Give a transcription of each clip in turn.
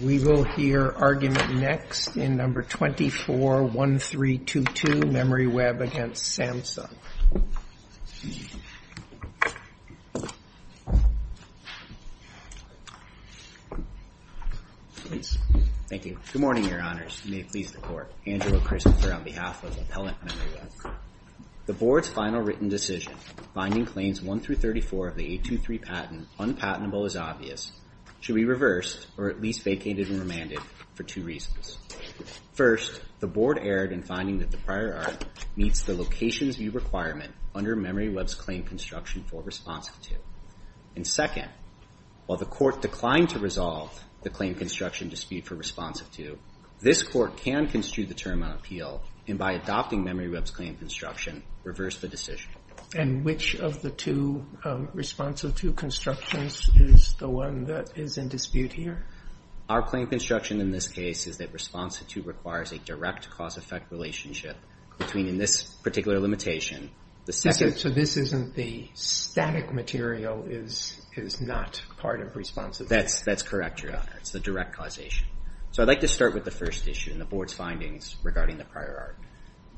We will hear argument next in No. 24-1322, MemoryWeb v. Samsung. Thank you. Good morning, Your Honors. May it please the Court. Andrew O. Christensen on behalf of Appellant MemoryWeb. The Board's final written decision, finding claims 1-34 of the 823 patent unpatentable is obvious, should be reversed or at least vacated and remanded for two reasons. First, the Board erred in finding that the prior art meets the Locations View requirement under MemoryWeb's claim construction for responsive to. And second, while the Court declined to resolve the claim construction dispute for responsive to, this Court can construe the term on appeal and by adopting MemoryWeb's claim construction, reverse the decision. And which of the two responsive to constructions is the one that is in dispute here? Our claim construction in this case is that responsive to requires a direct cause-effect relationship between, in this particular limitation, the second... So this isn't the static material is not part of responsive to? That's correct, Your Honor. It's the direct causation. So I'd like to start with the first issue in the Board's findings regarding the prior art.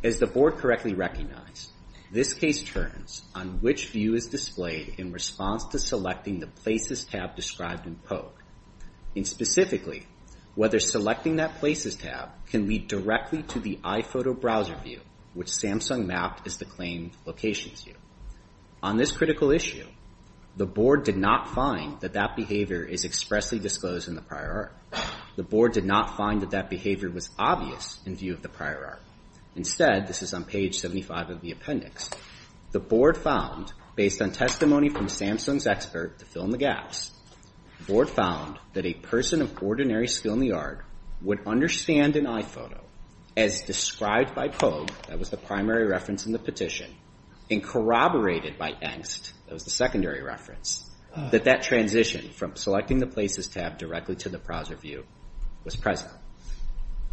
As the Board correctly recognized, this case turns on which view is displayed in response to selecting the Places tab described in POG. And specifically, whether selecting that Places tab can lead directly to the iPhoto browser view, which Samsung mapped as the claim Locations View. On this critical issue, the Board did not find that that behavior is expressly disclosed in the prior art. The Board did not find that that behavior was obvious in view of the prior art. Instead, this is on page 75 of the appendix, the Board found, based on testimony from Samsung's expert to fill in the gaps, the Board found that a person of ordinary skill in the art would understand an iPhoto as described by POG, that was the primary reference in the petition, and corroborated by angst, that was the secondary reference, that that transition from selecting the Places tab directly to the browser view was present.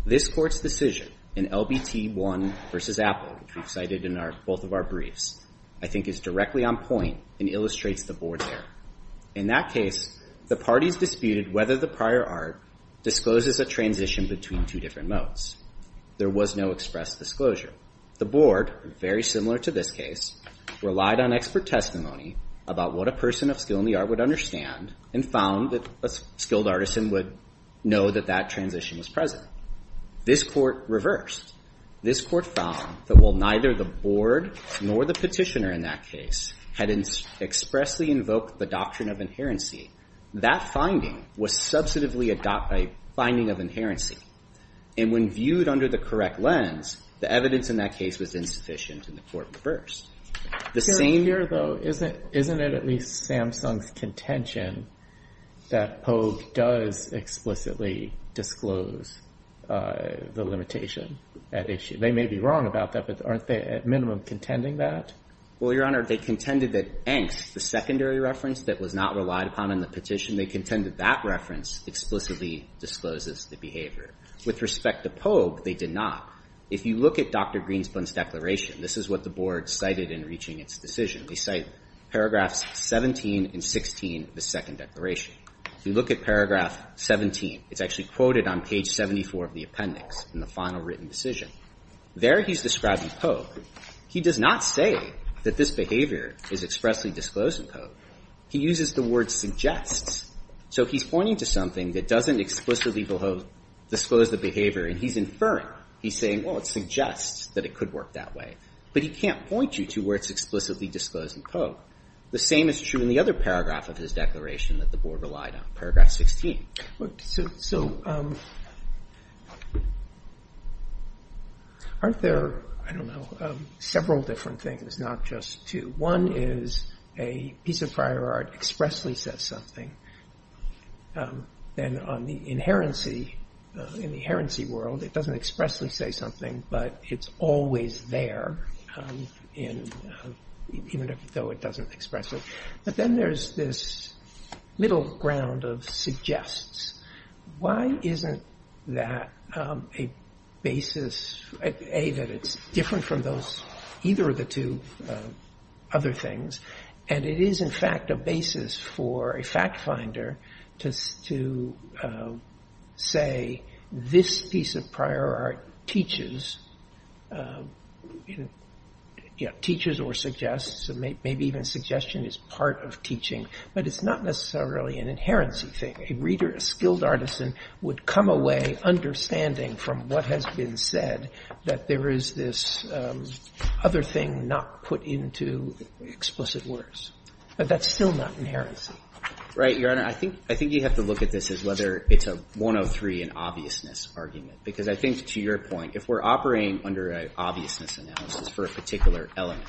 This Court's decision in LBT 1 v. Apple, which we've cited in both of our briefs, I think is directly on point and illustrates the Board's error. In that case, the parties disputed whether the prior art discloses a transition between two different modes. There was no express disclosure. The Board, very similar to this case, relied on expert testimony about what a person of skill in the art would understand, and found that a skilled artisan would know that that transition was present. This Court reversed. This Court found that while neither the Board nor the petitioner in that case had expressly invoked the doctrine of inherency, that finding was substantively a finding of inherency. And when viewed under the correct lens, the evidence in that case was insufficient, and the Court reversed. The same here though, isn't it at least Samsung's contention that Pogue does explicitly disclose the limitation at issue? They may be wrong about that, but aren't they at minimum contending that? Well, Your Honor, they contended that Engst, the secondary reference that was not relied upon in the petition, they contended that reference explicitly discloses the behavior. With respect to Pogue, they did not. If you look at Dr. Greenspan's declaration, this is what the Board cited in reaching its decision. They cite paragraphs 17 and 16 of the second declaration. If you look at paragraph 17, it's actually quoted on page 74 of the appendix in the final written decision. There he's describing Pogue. He does not say that this behavior is expressly disclosed in Pogue. He uses the word suggests. So he's pointing to something that doesn't explicitly disclose the behavior, and he's inferring. He's saying, well, it suggests that it could work that way. But he can't point you to where it's explicitly disclosed in Pogue. The same is true in the other paragraph of his declaration that the Board relied on, paragraph 16. So aren't there, I don't know, several different things, not just two. One is a piece of prior art expressly says something. Then on the other hand, in the herency world, it doesn't expressly say something, but it's always there, even though it doesn't express it. But then there's this middle ground of suggests. Why isn't that a basis, A, that it's different from either of the two other things, and it is, in fact, a basis for a fact finder to say, this piece of prior art teaches, teaches or suggests, and maybe even suggestion is part of teaching. But it's not necessarily an inherency thing. A reader, a skilled artisan, would come away understanding from what has been said that there is this other thing not put into explicit words. But that's still not inherency. Right, Your Honor. I think you have to look at this as whether it's a 103 in obviousness argument. Because I think, to your point, if we're operating under an obviousness analysis for a particular element,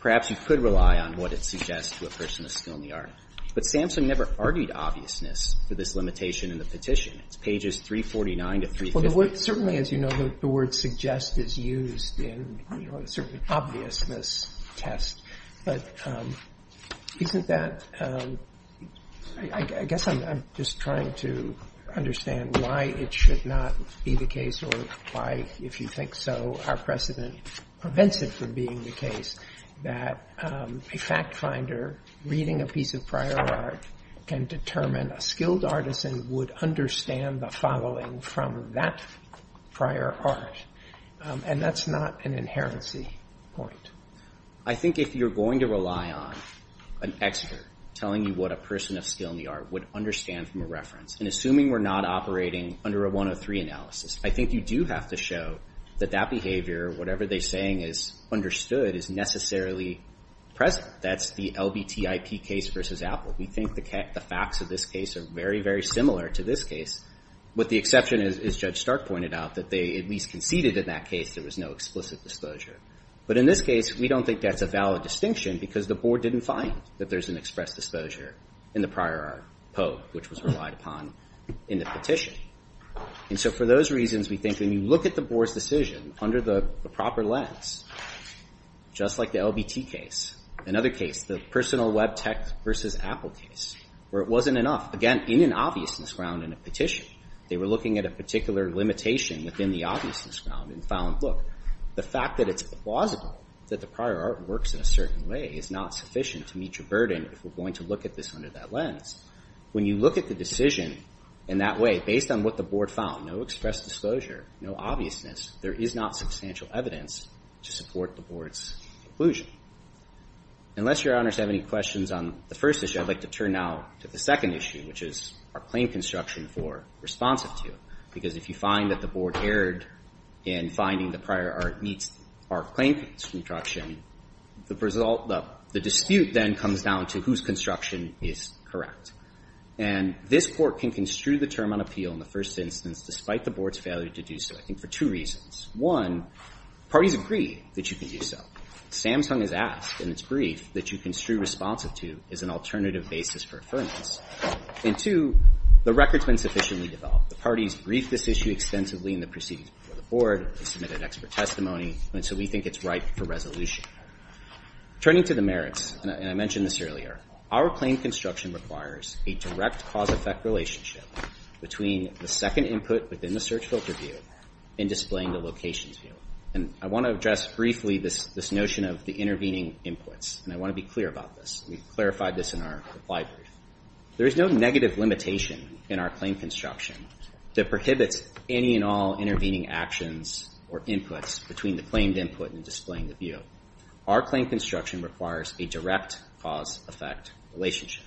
perhaps you could rely on what it suggests to a person of skill in the art. But Sampson never argued obviousness for this limitation in the petition. It's pages 349 to 350. Certainly, as you know, the word suggest is used in a certain obviousness test. But isn't that, I guess I'm just trying to understand why it should not be the case or why, if you think so, our precedent prevents it from being the case that a fact finder reading a piece of prior art can determine a skilled artisan would understand the following from that prior art. And that's not an inherency point. I think if you're going to rely on an expert telling you what a person of skill in the art would understand from a reference, and assuming we're not operating under a 103 analysis, I think you do have to show that that behavior, whatever they're saying is understood, is necessarily present. That's the LBTIP case versus Apple. We think the facts of this case are very, very similar to this case, with the exception, as Judge Stark pointed out, that they at least conceded in that case there was no explicit disclosure. But in this case, we don't think that's a valid distinction because the board didn't find that there's an express disclosure in the prior art pope, which was relied upon in the petition. And so for those reasons, we think when you look at the board's decision under the proper lens, just like the LBT case, another case, the personal web tech versus Apple case, where it wasn't enough, again, in an obviousness ground in a petition, they were looking at a particular limitation within the obviousness ground and found, look, the fact that it's plausible that the prior art works in a certain way is not sufficient to meet your burden if we're going to look at this under that lens. When you look at the decision in that way, based on what the board found, no express disclosure, no obviousness, there is not substantial evidence to support the board's conclusion. Unless your honors have any questions on the first issue, I'd like to turn now to the second issue, which is our claim construction for responsive to. Because if you find that the board erred in finding the prior art meets our claim construction, the dispute then comes down to whose construction is correct. And this court can construe the term on appeal in the first instance, despite the board's failure to do so, I think for two reasons. One, parties agree that you can do so. Samsung has asked, and it's briefed, that you construe responsive to as an alternative basis for affirmance. And two, the record's been sufficiently developed. The parties briefed this issue extensively in the proceedings before the board and submitted expert testimony, and so we think it's ripe for resolution. Turning to the merits, and I mentioned this earlier, our claim construction requires a direct cause-effect relationship between the second input within the search filter view and displaying the locations view. And I want to address briefly this notion of the intervening inputs, and I want to be clear about this. We've clarified this in our reply brief. There is no negative limitation in our claim construction that prohibits any and all intervening actions or inputs between the claimed input and displaying the view. Our claim construction requires a direct cause-effect relationship.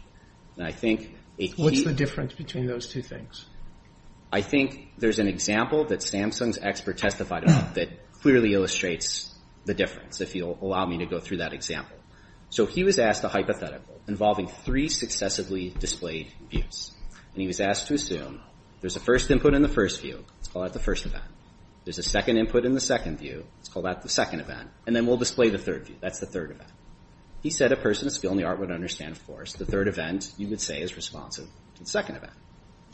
And I think a key— What's the difference between those two things? I think there's an example that Samsung's expert testified about that clearly illustrates the difference, if you'll allow me to go through that example. So he was asked a hypothetical involving three successively displayed views. And he was asked to assume there's a first input in the first view. Let's call that the first event. There's a second input in the second view. Let's call that the second event. And then we'll display the third view. That's the third event. He said a person of skill in the art would understand, of course, the third event you would say is responsive to the second event.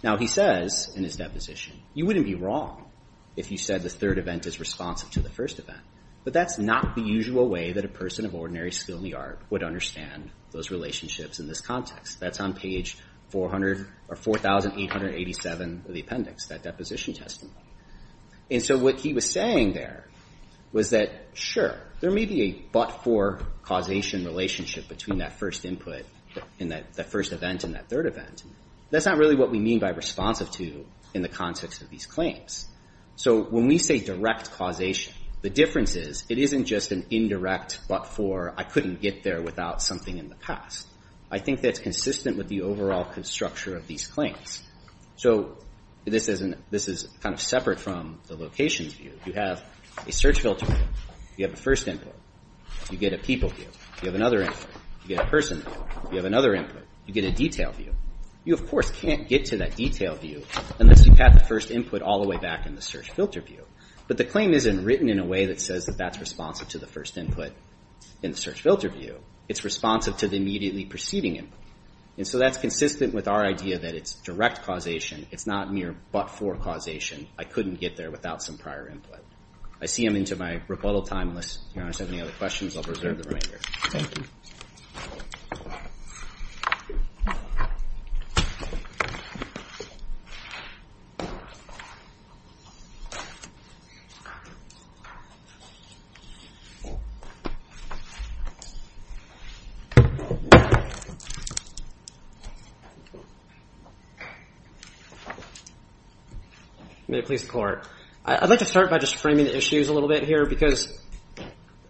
Now, he says in his deposition, you wouldn't be wrong if you said the third event is responsive to the first event. But that's not the usual way that a person of ordinary skill in the art would understand those relationships in this context. That's on page 4,887 of the appendix, that deposition testimony. And so what he was saying there was that, sure, there may be a but-for causation relationship between that first input in that first event and that third event. That's not really what we mean by responsive to in the context of these claims. So when we say direct causation, the difference is, it isn't just an indirect but-for, I couldn't get there without something in the past. I think that's consistent with the overall structure of these claims. So this is kind of separate from the locations view. You have a search filter view. You have a first input. You get a people view. You have another input. You get a person view. You have another input. You get a detail view. You, of course, can't get to that detail view unless you've had the first input all the way back in the search filter view. But the claim isn't written in a way that says that that's responsive to the first input in the search filter view. It's responsive to the immediately preceding input. And so that's consistent with our idea that it's direct causation. It's not mere but-for causation. I couldn't get there without some prior input. I see I'm into my rebuttal time. Unless Your Honor has any other questions, I'll reserve the remainder. May it please the Court. I'd like to start by just framing the issues a little bit here because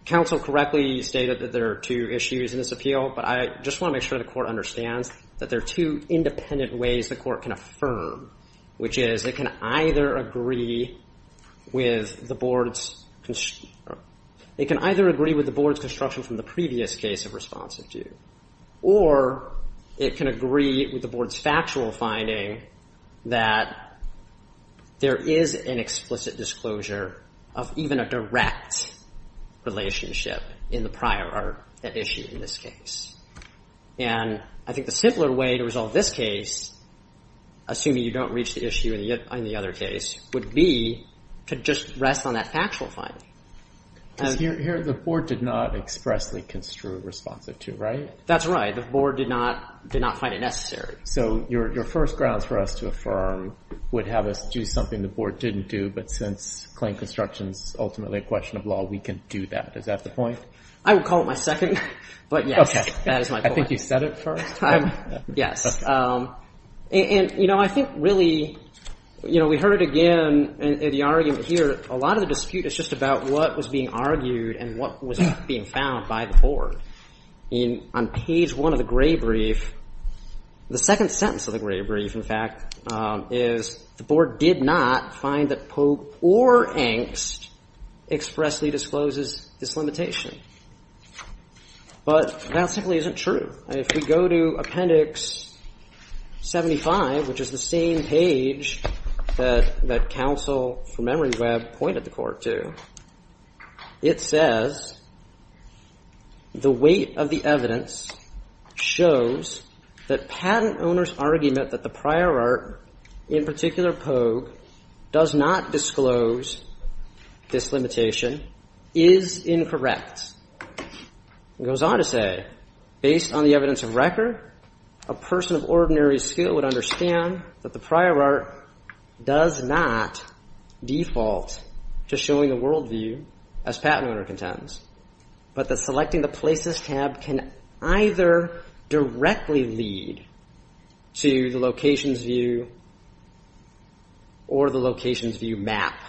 counsel correctly stated that there are two issues in this appeal. But I just want to make sure the Court understands that there are two independent ways the Court can affirm, which is it can either agree with the board's construction from the previous case of responsive to. Or it can agree with the board's factual finding that there is an explicit disclosure of even a direct relationship in the prior issue in this case. And I think the simpler way to resolve this case, assuming you don't reach the issue in the other case, would be to just rest on that factual finding. Because here the board did not expressly construe responsive to, right? That's right. The board did not did not find it necessary. So your first grounds for us to affirm would have us do something the board didn't do. But since claim construction is ultimately a question of law, we can do that. Is that the point? I would call it my second. But yes, that is my point. I think you said it first. Yes. And you know, I think really, you know, we heard it again in the argument here. A lot of the dispute is just about what was being argued and what was being found by the board. On page one of the Gray Brief, the second sentence of the Gray Brief, in fact, is the board did not find that Pope or Angst expressly discloses dislimitation. But that simply isn't true. If we go to Appendix 75, which is the same page that counsel from Emory Webb pointed the court to, it says the weight of the evidence shows that patent owner's argument that the prior art, in particular Pogue, does not disclose dislimitation is incorrect. It goes on to say, based on the evidence of record, a person of ordinary skill would understand that the prior art does not default to showing the world view as patent owner contends, but that selecting the places tab can either directly lead to the locations view or the locations view map.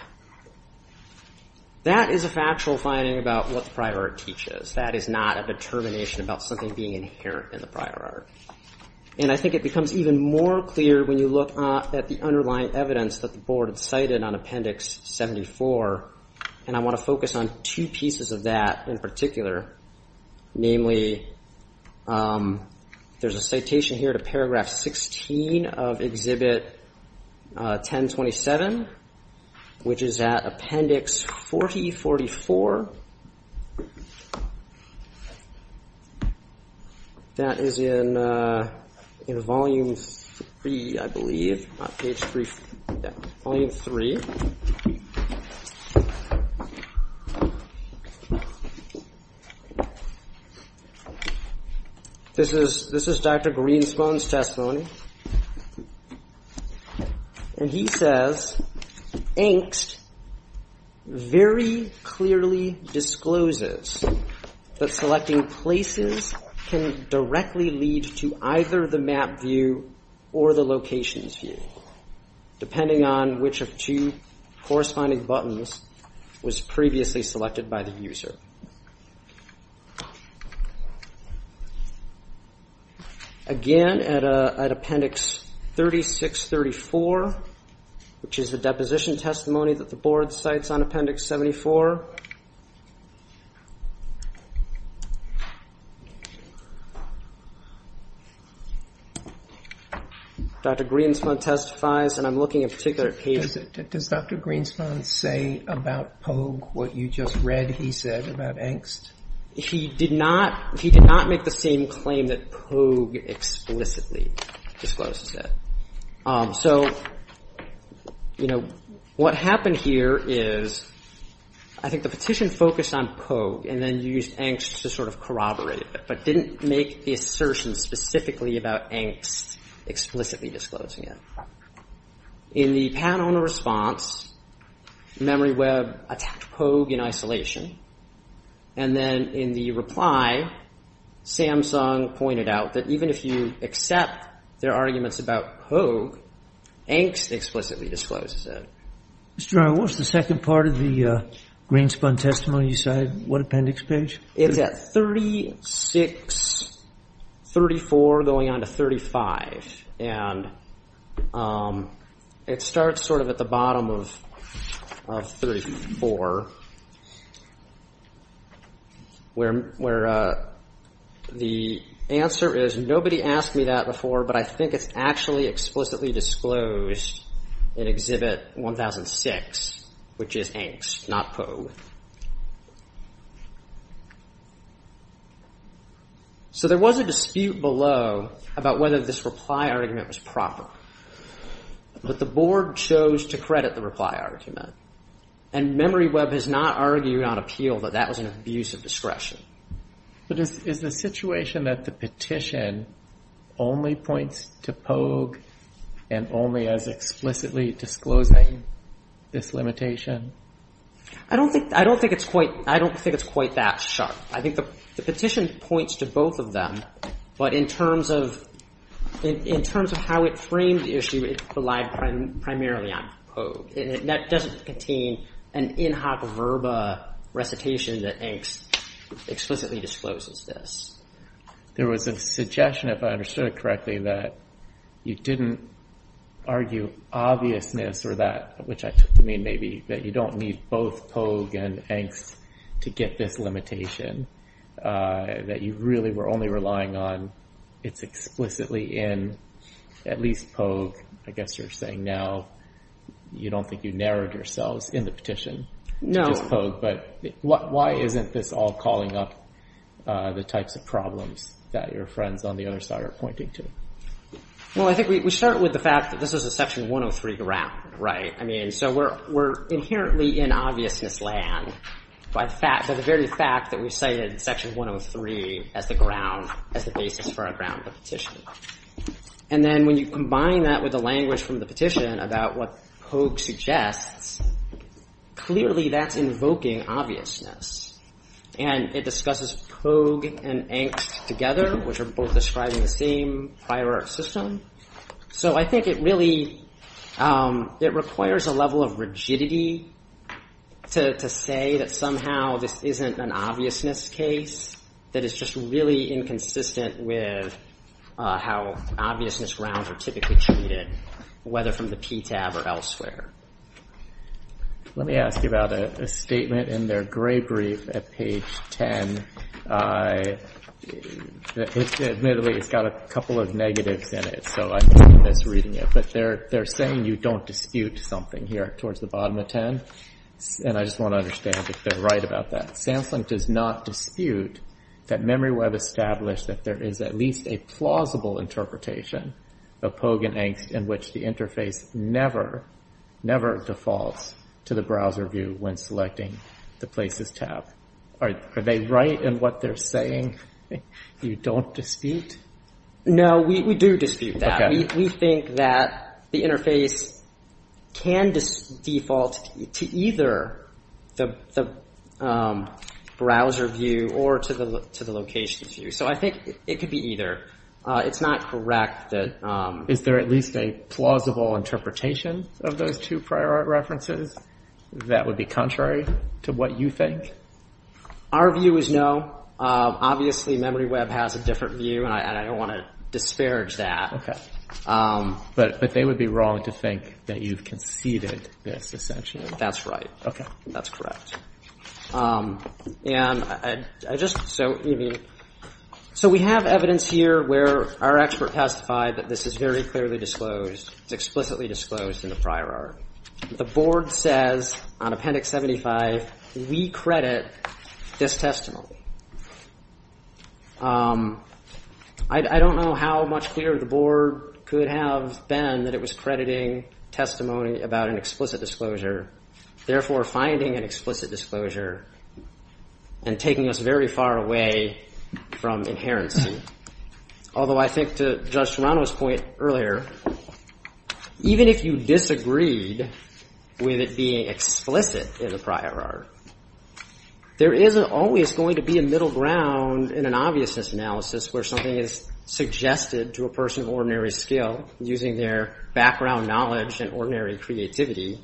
That is a factual finding about what the prior art teaches. That is not a determination about something being inherent in the prior art. And I think it becomes even more clear when you look at the underlying evidence that the board had cited on Appendix 74. And I want to focus on two pieces of that in particular. Namely, there's a citation here to Paragraph 16 of Exhibit 1027, which is at Appendix 4044. That is in Volume 3, I believe. Yeah, Volume 3. This is Dr. Greenspone's testimony. And he says, angst very clearly discloses that selecting places can directly lead to either the map view or the locations view, depending on which of two corresponding buttons was previously selected by the user. Again, at Appendix 3634, which is the deposition testimony that the board cites on Appendix 74. Dr. Greenspone testifies, and I'm looking at a particular page. Does Dr. Greenspone say about Pogue what you just read he said about angst? He did not make the same claim that Pogue explicitly discloses that. So, you know, what happened here is, I think the petition focused on Pogue and then you used angst to sort of corroborate it, but didn't make the assertion specifically about angst explicitly disclosing it. In the panel in response, MemoryWeb attacked Pogue in isolation. And then in the reply, Samsung pointed out that even if you accept their arguments about Pogue, angst explicitly discloses it. Mr. John, what's the second part of the Greenspone testimony you cited? What appendix page? It's at 3634 going on to 35. And it starts sort of at the bottom of 34. Where the answer is, nobody asked me that before, but I think it's actually explicitly disclosed in Exhibit 1006, which is angst, not Pogue. So, there was a dispute below about whether this reply argument was proper. But the board chose to credit the reply argument. And MemoryWeb has not argued on appeal that that was an abuse of discretion. But is the situation that the petition only points to Pogue and only as explicitly disclosing this limitation? I don't think it's quite that sharp. I think the petition points to both of them, but in terms of how it framed the issue, it relied primarily on Pogue. And that doesn't contain an in-hoc verba recitation that angst explicitly discloses this. There was a suggestion, if I understood it correctly, that you didn't argue obviousness or that, which I took to mean maybe that you don't need both Pogue and angst to get this limitation, that you really were only relying on it's explicitly in at least Pogue. I guess you're saying now you don't think you narrowed yourselves in the petition to just Pogue. But why isn't this all calling up the types of problems that your friends on the other side are pointing to? Well, I think we start with the fact that this is a Section 103 grant, right? So we're inherently in obviousness land by the very fact that we cited Section 103 as the basis for our ground of the petition. And then when you combine that with the language from the petition about what Pogue suggests, clearly that's invoking obviousness. And it discusses Pogue and angst together, which are both describing the same prior art system. So I think it really, it requires a level of rigidity to say that somehow this isn't an obviousness case that is just really inconsistent with how obviousness grounds are typically treated, whether from the PTAB or elsewhere. Let me ask you about a statement in their gray brief at page 10. I admittedly, it's got a couple of negatives in it. So I'm misreading it. But they're saying you don't dispute something here towards the bottom of 10. And I just want to understand if they're right about that. SAMSLINK does not dispute that MemoryWeb established that there is at least a plausible interpretation of Pogue and angst in which the interface never, never defaults to the browser view when selecting the Places tab. Are they right in what they're saying? You don't dispute? No, we do dispute that. We think that the interface can default to either the browser view or to the location view. So I think it could be either. It's not correct that... Is there at least a plausible interpretation of those two prior art references that would be contrary to what you think? Our view is no. Obviously, MemoryWeb has a different view. And I don't want to disparage that. But they would be wrong to think that you've conceded this, essentially. That's right. OK. That's correct. And I just... So we have evidence here where our expert testified that this is very clearly disclosed. It's explicitly disclosed in the prior art. The Board says on Appendix 75, we credit this testimony. I don't know how much clearer the Board could have been that it was crediting testimony about an explicit disclosure, therefore finding an explicit disclosure and taking us very far away from inherency. Although I think to Judge Serrano's point earlier, even if you disagreed with it being explicit in the prior art, there isn't always going to be a middle ground in an obviousness analysis where something is suggested to a person of ordinary skill using their background knowledge and ordinary creativity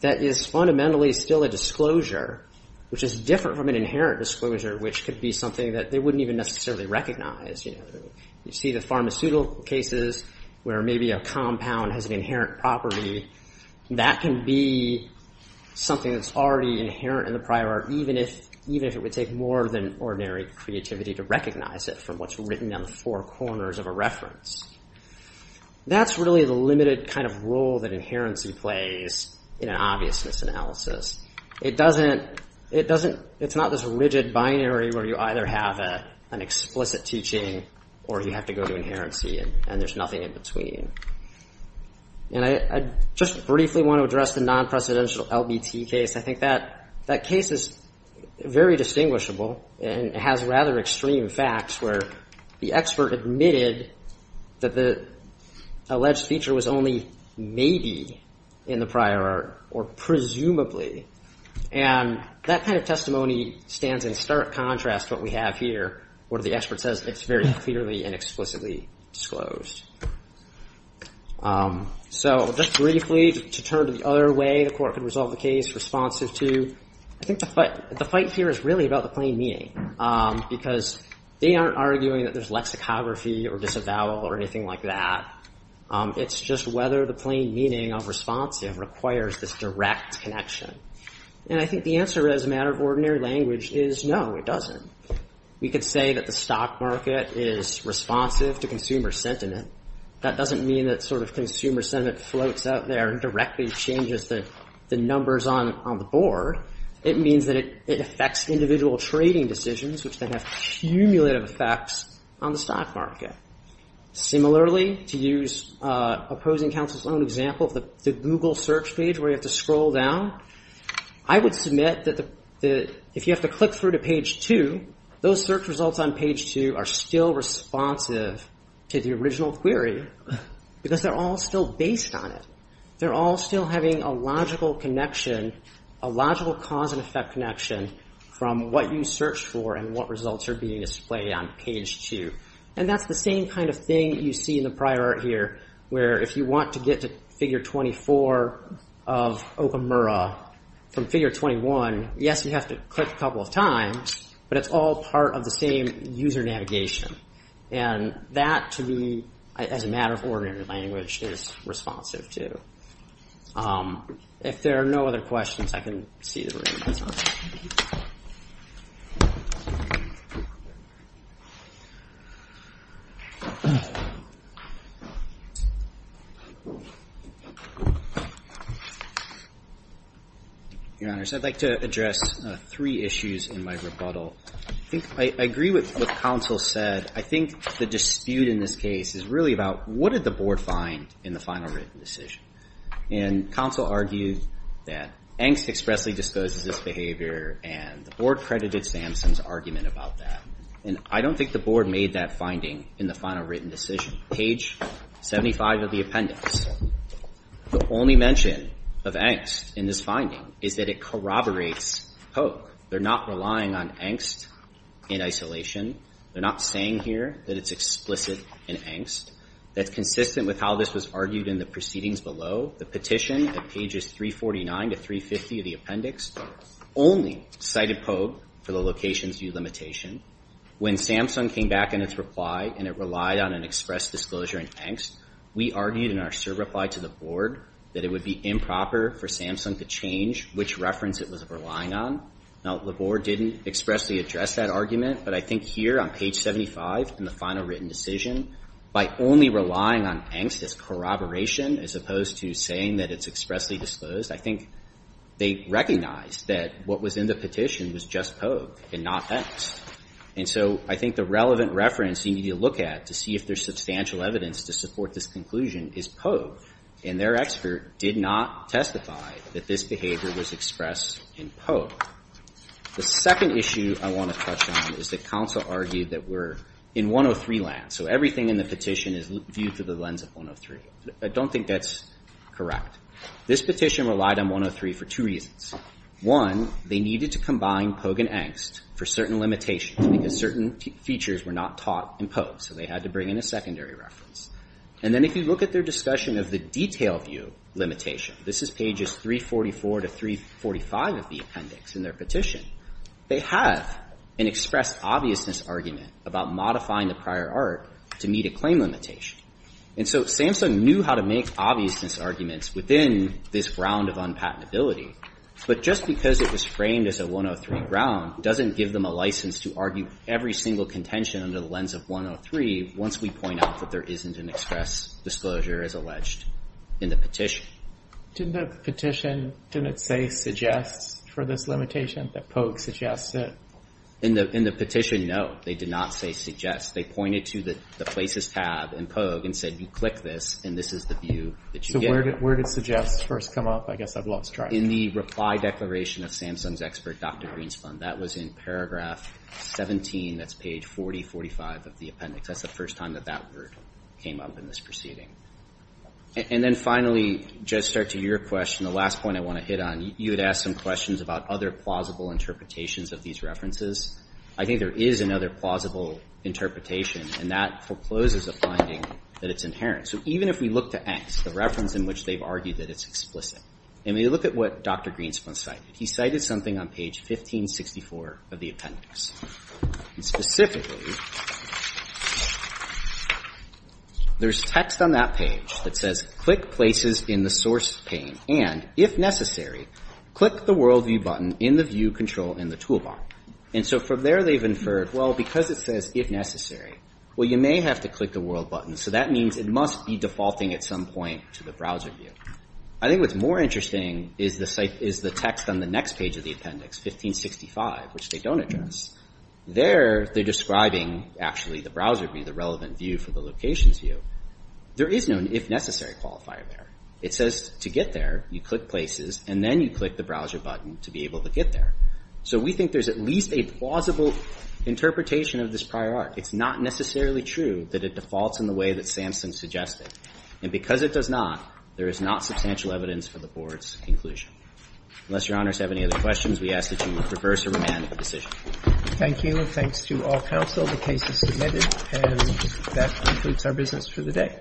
that is fundamentally still a disclosure, which is different from an inherent disclosure, which could be something that they wouldn't even necessarily recognize. You see the pharmaceutical cases where maybe a compound has an inherent property. That can be something that's already inherent in the prior art, even if it would take more than ordinary creativity to recognize it from what's written down the four corners of a That's really the limited kind of role that inherency plays in an obviousness analysis. It doesn't, it's not this rigid binary where you either have an explicit teaching or you have to go to inherency and there's nothing in between. And I just briefly want to address the non-precedential LBT case. I think that case is very distinguishable and has rather extreme facts where the expert admitted that the alleged feature was only maybe in the prior art or presumably, and that kind of testimony stands in stark contrast to what we have here where the expert says it's very clearly and explicitly disclosed. So just briefly to turn to the other way the court could resolve the case responsive to, I think the fight here is really about the plain meaning because they aren't arguing that there's lexicography or disavowal or anything like that. It's just whether the plain meaning of responsive requires this direct connection. And I think the answer as a matter of ordinary language is no, it doesn't. We could say that the stock market is responsive to consumer sentiment. That doesn't mean that sort of consumer sentiment floats out there and directly changes the numbers on the board. It means that it affects individual trading decisions which then have cumulative effects on the stock market. Similarly, to use opposing counsel's own example of the Google search page where you have to scroll down, I would submit that if you have to click through to page two, those search results on page two are still responsive to the original query because they're all still based on it. They're all still having a logical connection, a logical cause and effect connection from what you search for and what results are being displayed on page two. And that's the same kind of thing you see in the prior art here where if you want to get to figure 24 of Okamura from figure 21, yes, you have to click a couple of times, but it's all part of the same user navigation. And that to me, as a matter of ordinary language, is responsive to. If there are no other questions, I can see the room. Your Honor, I'd like to address three issues in my rebuttal. I agree with what counsel said. I think the dispute in this case is really about what did the board find in the final written decision? And counsel argued that angst expressly discloses this behavior and the board credited Sampson's argument about that. And I don't think the board made that finding in the final written decision. Page 75 of the appendix, the only mention of angst in this finding is that it corroborates POKE. They're not relying on angst in isolation. They're not saying here that it's explicit in angst. That's consistent with how this was argued in the proceedings below. The petition at pages 349 to 350 of the appendix only cited POKE for the location's view limitation. When Sampson came back in its reply and it relied on an express disclosure in angst, we argued in our serve reply to the board that it would be improper for Sampson to change which reference it was relying on. Now, the board didn't expressly address that argument, but I think here on page 75 in the final written decision, by only relying on angst as corroboration as opposed to saying that it's expressly disclosed, I think they recognized that what was in the petition was just POKE and not angst. And so I think the relevant reference you need to look at to see if there's substantial evidence to support this conclusion is POKE. And their expert did not testify that this behavior was expressed in POKE. The second issue I want to touch on is that counsel argued that we're in 103 land. So everything in the petition is viewed through the lens of 103. I don't think that's correct. This petition relied on 103 for two reasons. One, they needed to combine POKE and angst for certain limitations because certain features were not taught in POKE. So they had to bring in a secondary reference. And then if you look at their discussion of the detail view limitation, this is pages 344 to 345 of the appendix in their petition, they have an express obviousness argument about modifying the prior art to meet a claim limitation. And so Samsung knew how to make obviousness arguments within this round of unpatentability. But just because it was framed as a 103 round doesn't give them a license to argue every single contention under the lens of 103 once we point out that there isn't an express disclosure as alleged in the petition. Did the petition, didn't it say suggests for this limitation that POKE suggests it? In the petition, no. They did not say suggest. They pointed to the places tab in POKE and said you click this and this is the view that you get. So where did suggest first come up? I guess I've lost track. In the reply declaration of Samsung's expert, Dr. Greenspan. That was in paragraph 17, that's page 40, 45 of the appendix. That's the first time that that word came up in this proceeding. And then finally, just start to your question, the last point I want to hit on, you had asked some questions about other plausible interpretations of these references. I think there is another plausible interpretation and that forecloses a finding that it's inherent. So even if we look to X, the reference in which they've argued that it's explicit, and we look at what Dr. Greenspan cited. He cited something on page 1564 of the appendix. Specifically, there's text on that page that says click places in the source pane. And if necessary, click the world view button in the view control in the toolbar. And so from there, they've inferred, well, because it says if necessary, well, you may have to click the world button. So that means it must be defaulting at some point to the browser view. I think what's more interesting is the text on the next page of the appendix, 1565, which they don't address. There, they're describing actually the browser view, the relevant view for the locations view. There is no if necessary qualifier there. It says to get there, you click places, and then you click the browser button to be able to get there. So we think there's at least a plausible interpretation of this prior art. It's not necessarily true that it defaults in the way that Samson suggested. And because it does not, there is not substantial evidence for the board's conclusion. Unless your honors have any other questions, we ask that you reverse or remand the decision. Thank you. Thanks to all counsel. The case is submitted. And that concludes our business for the day.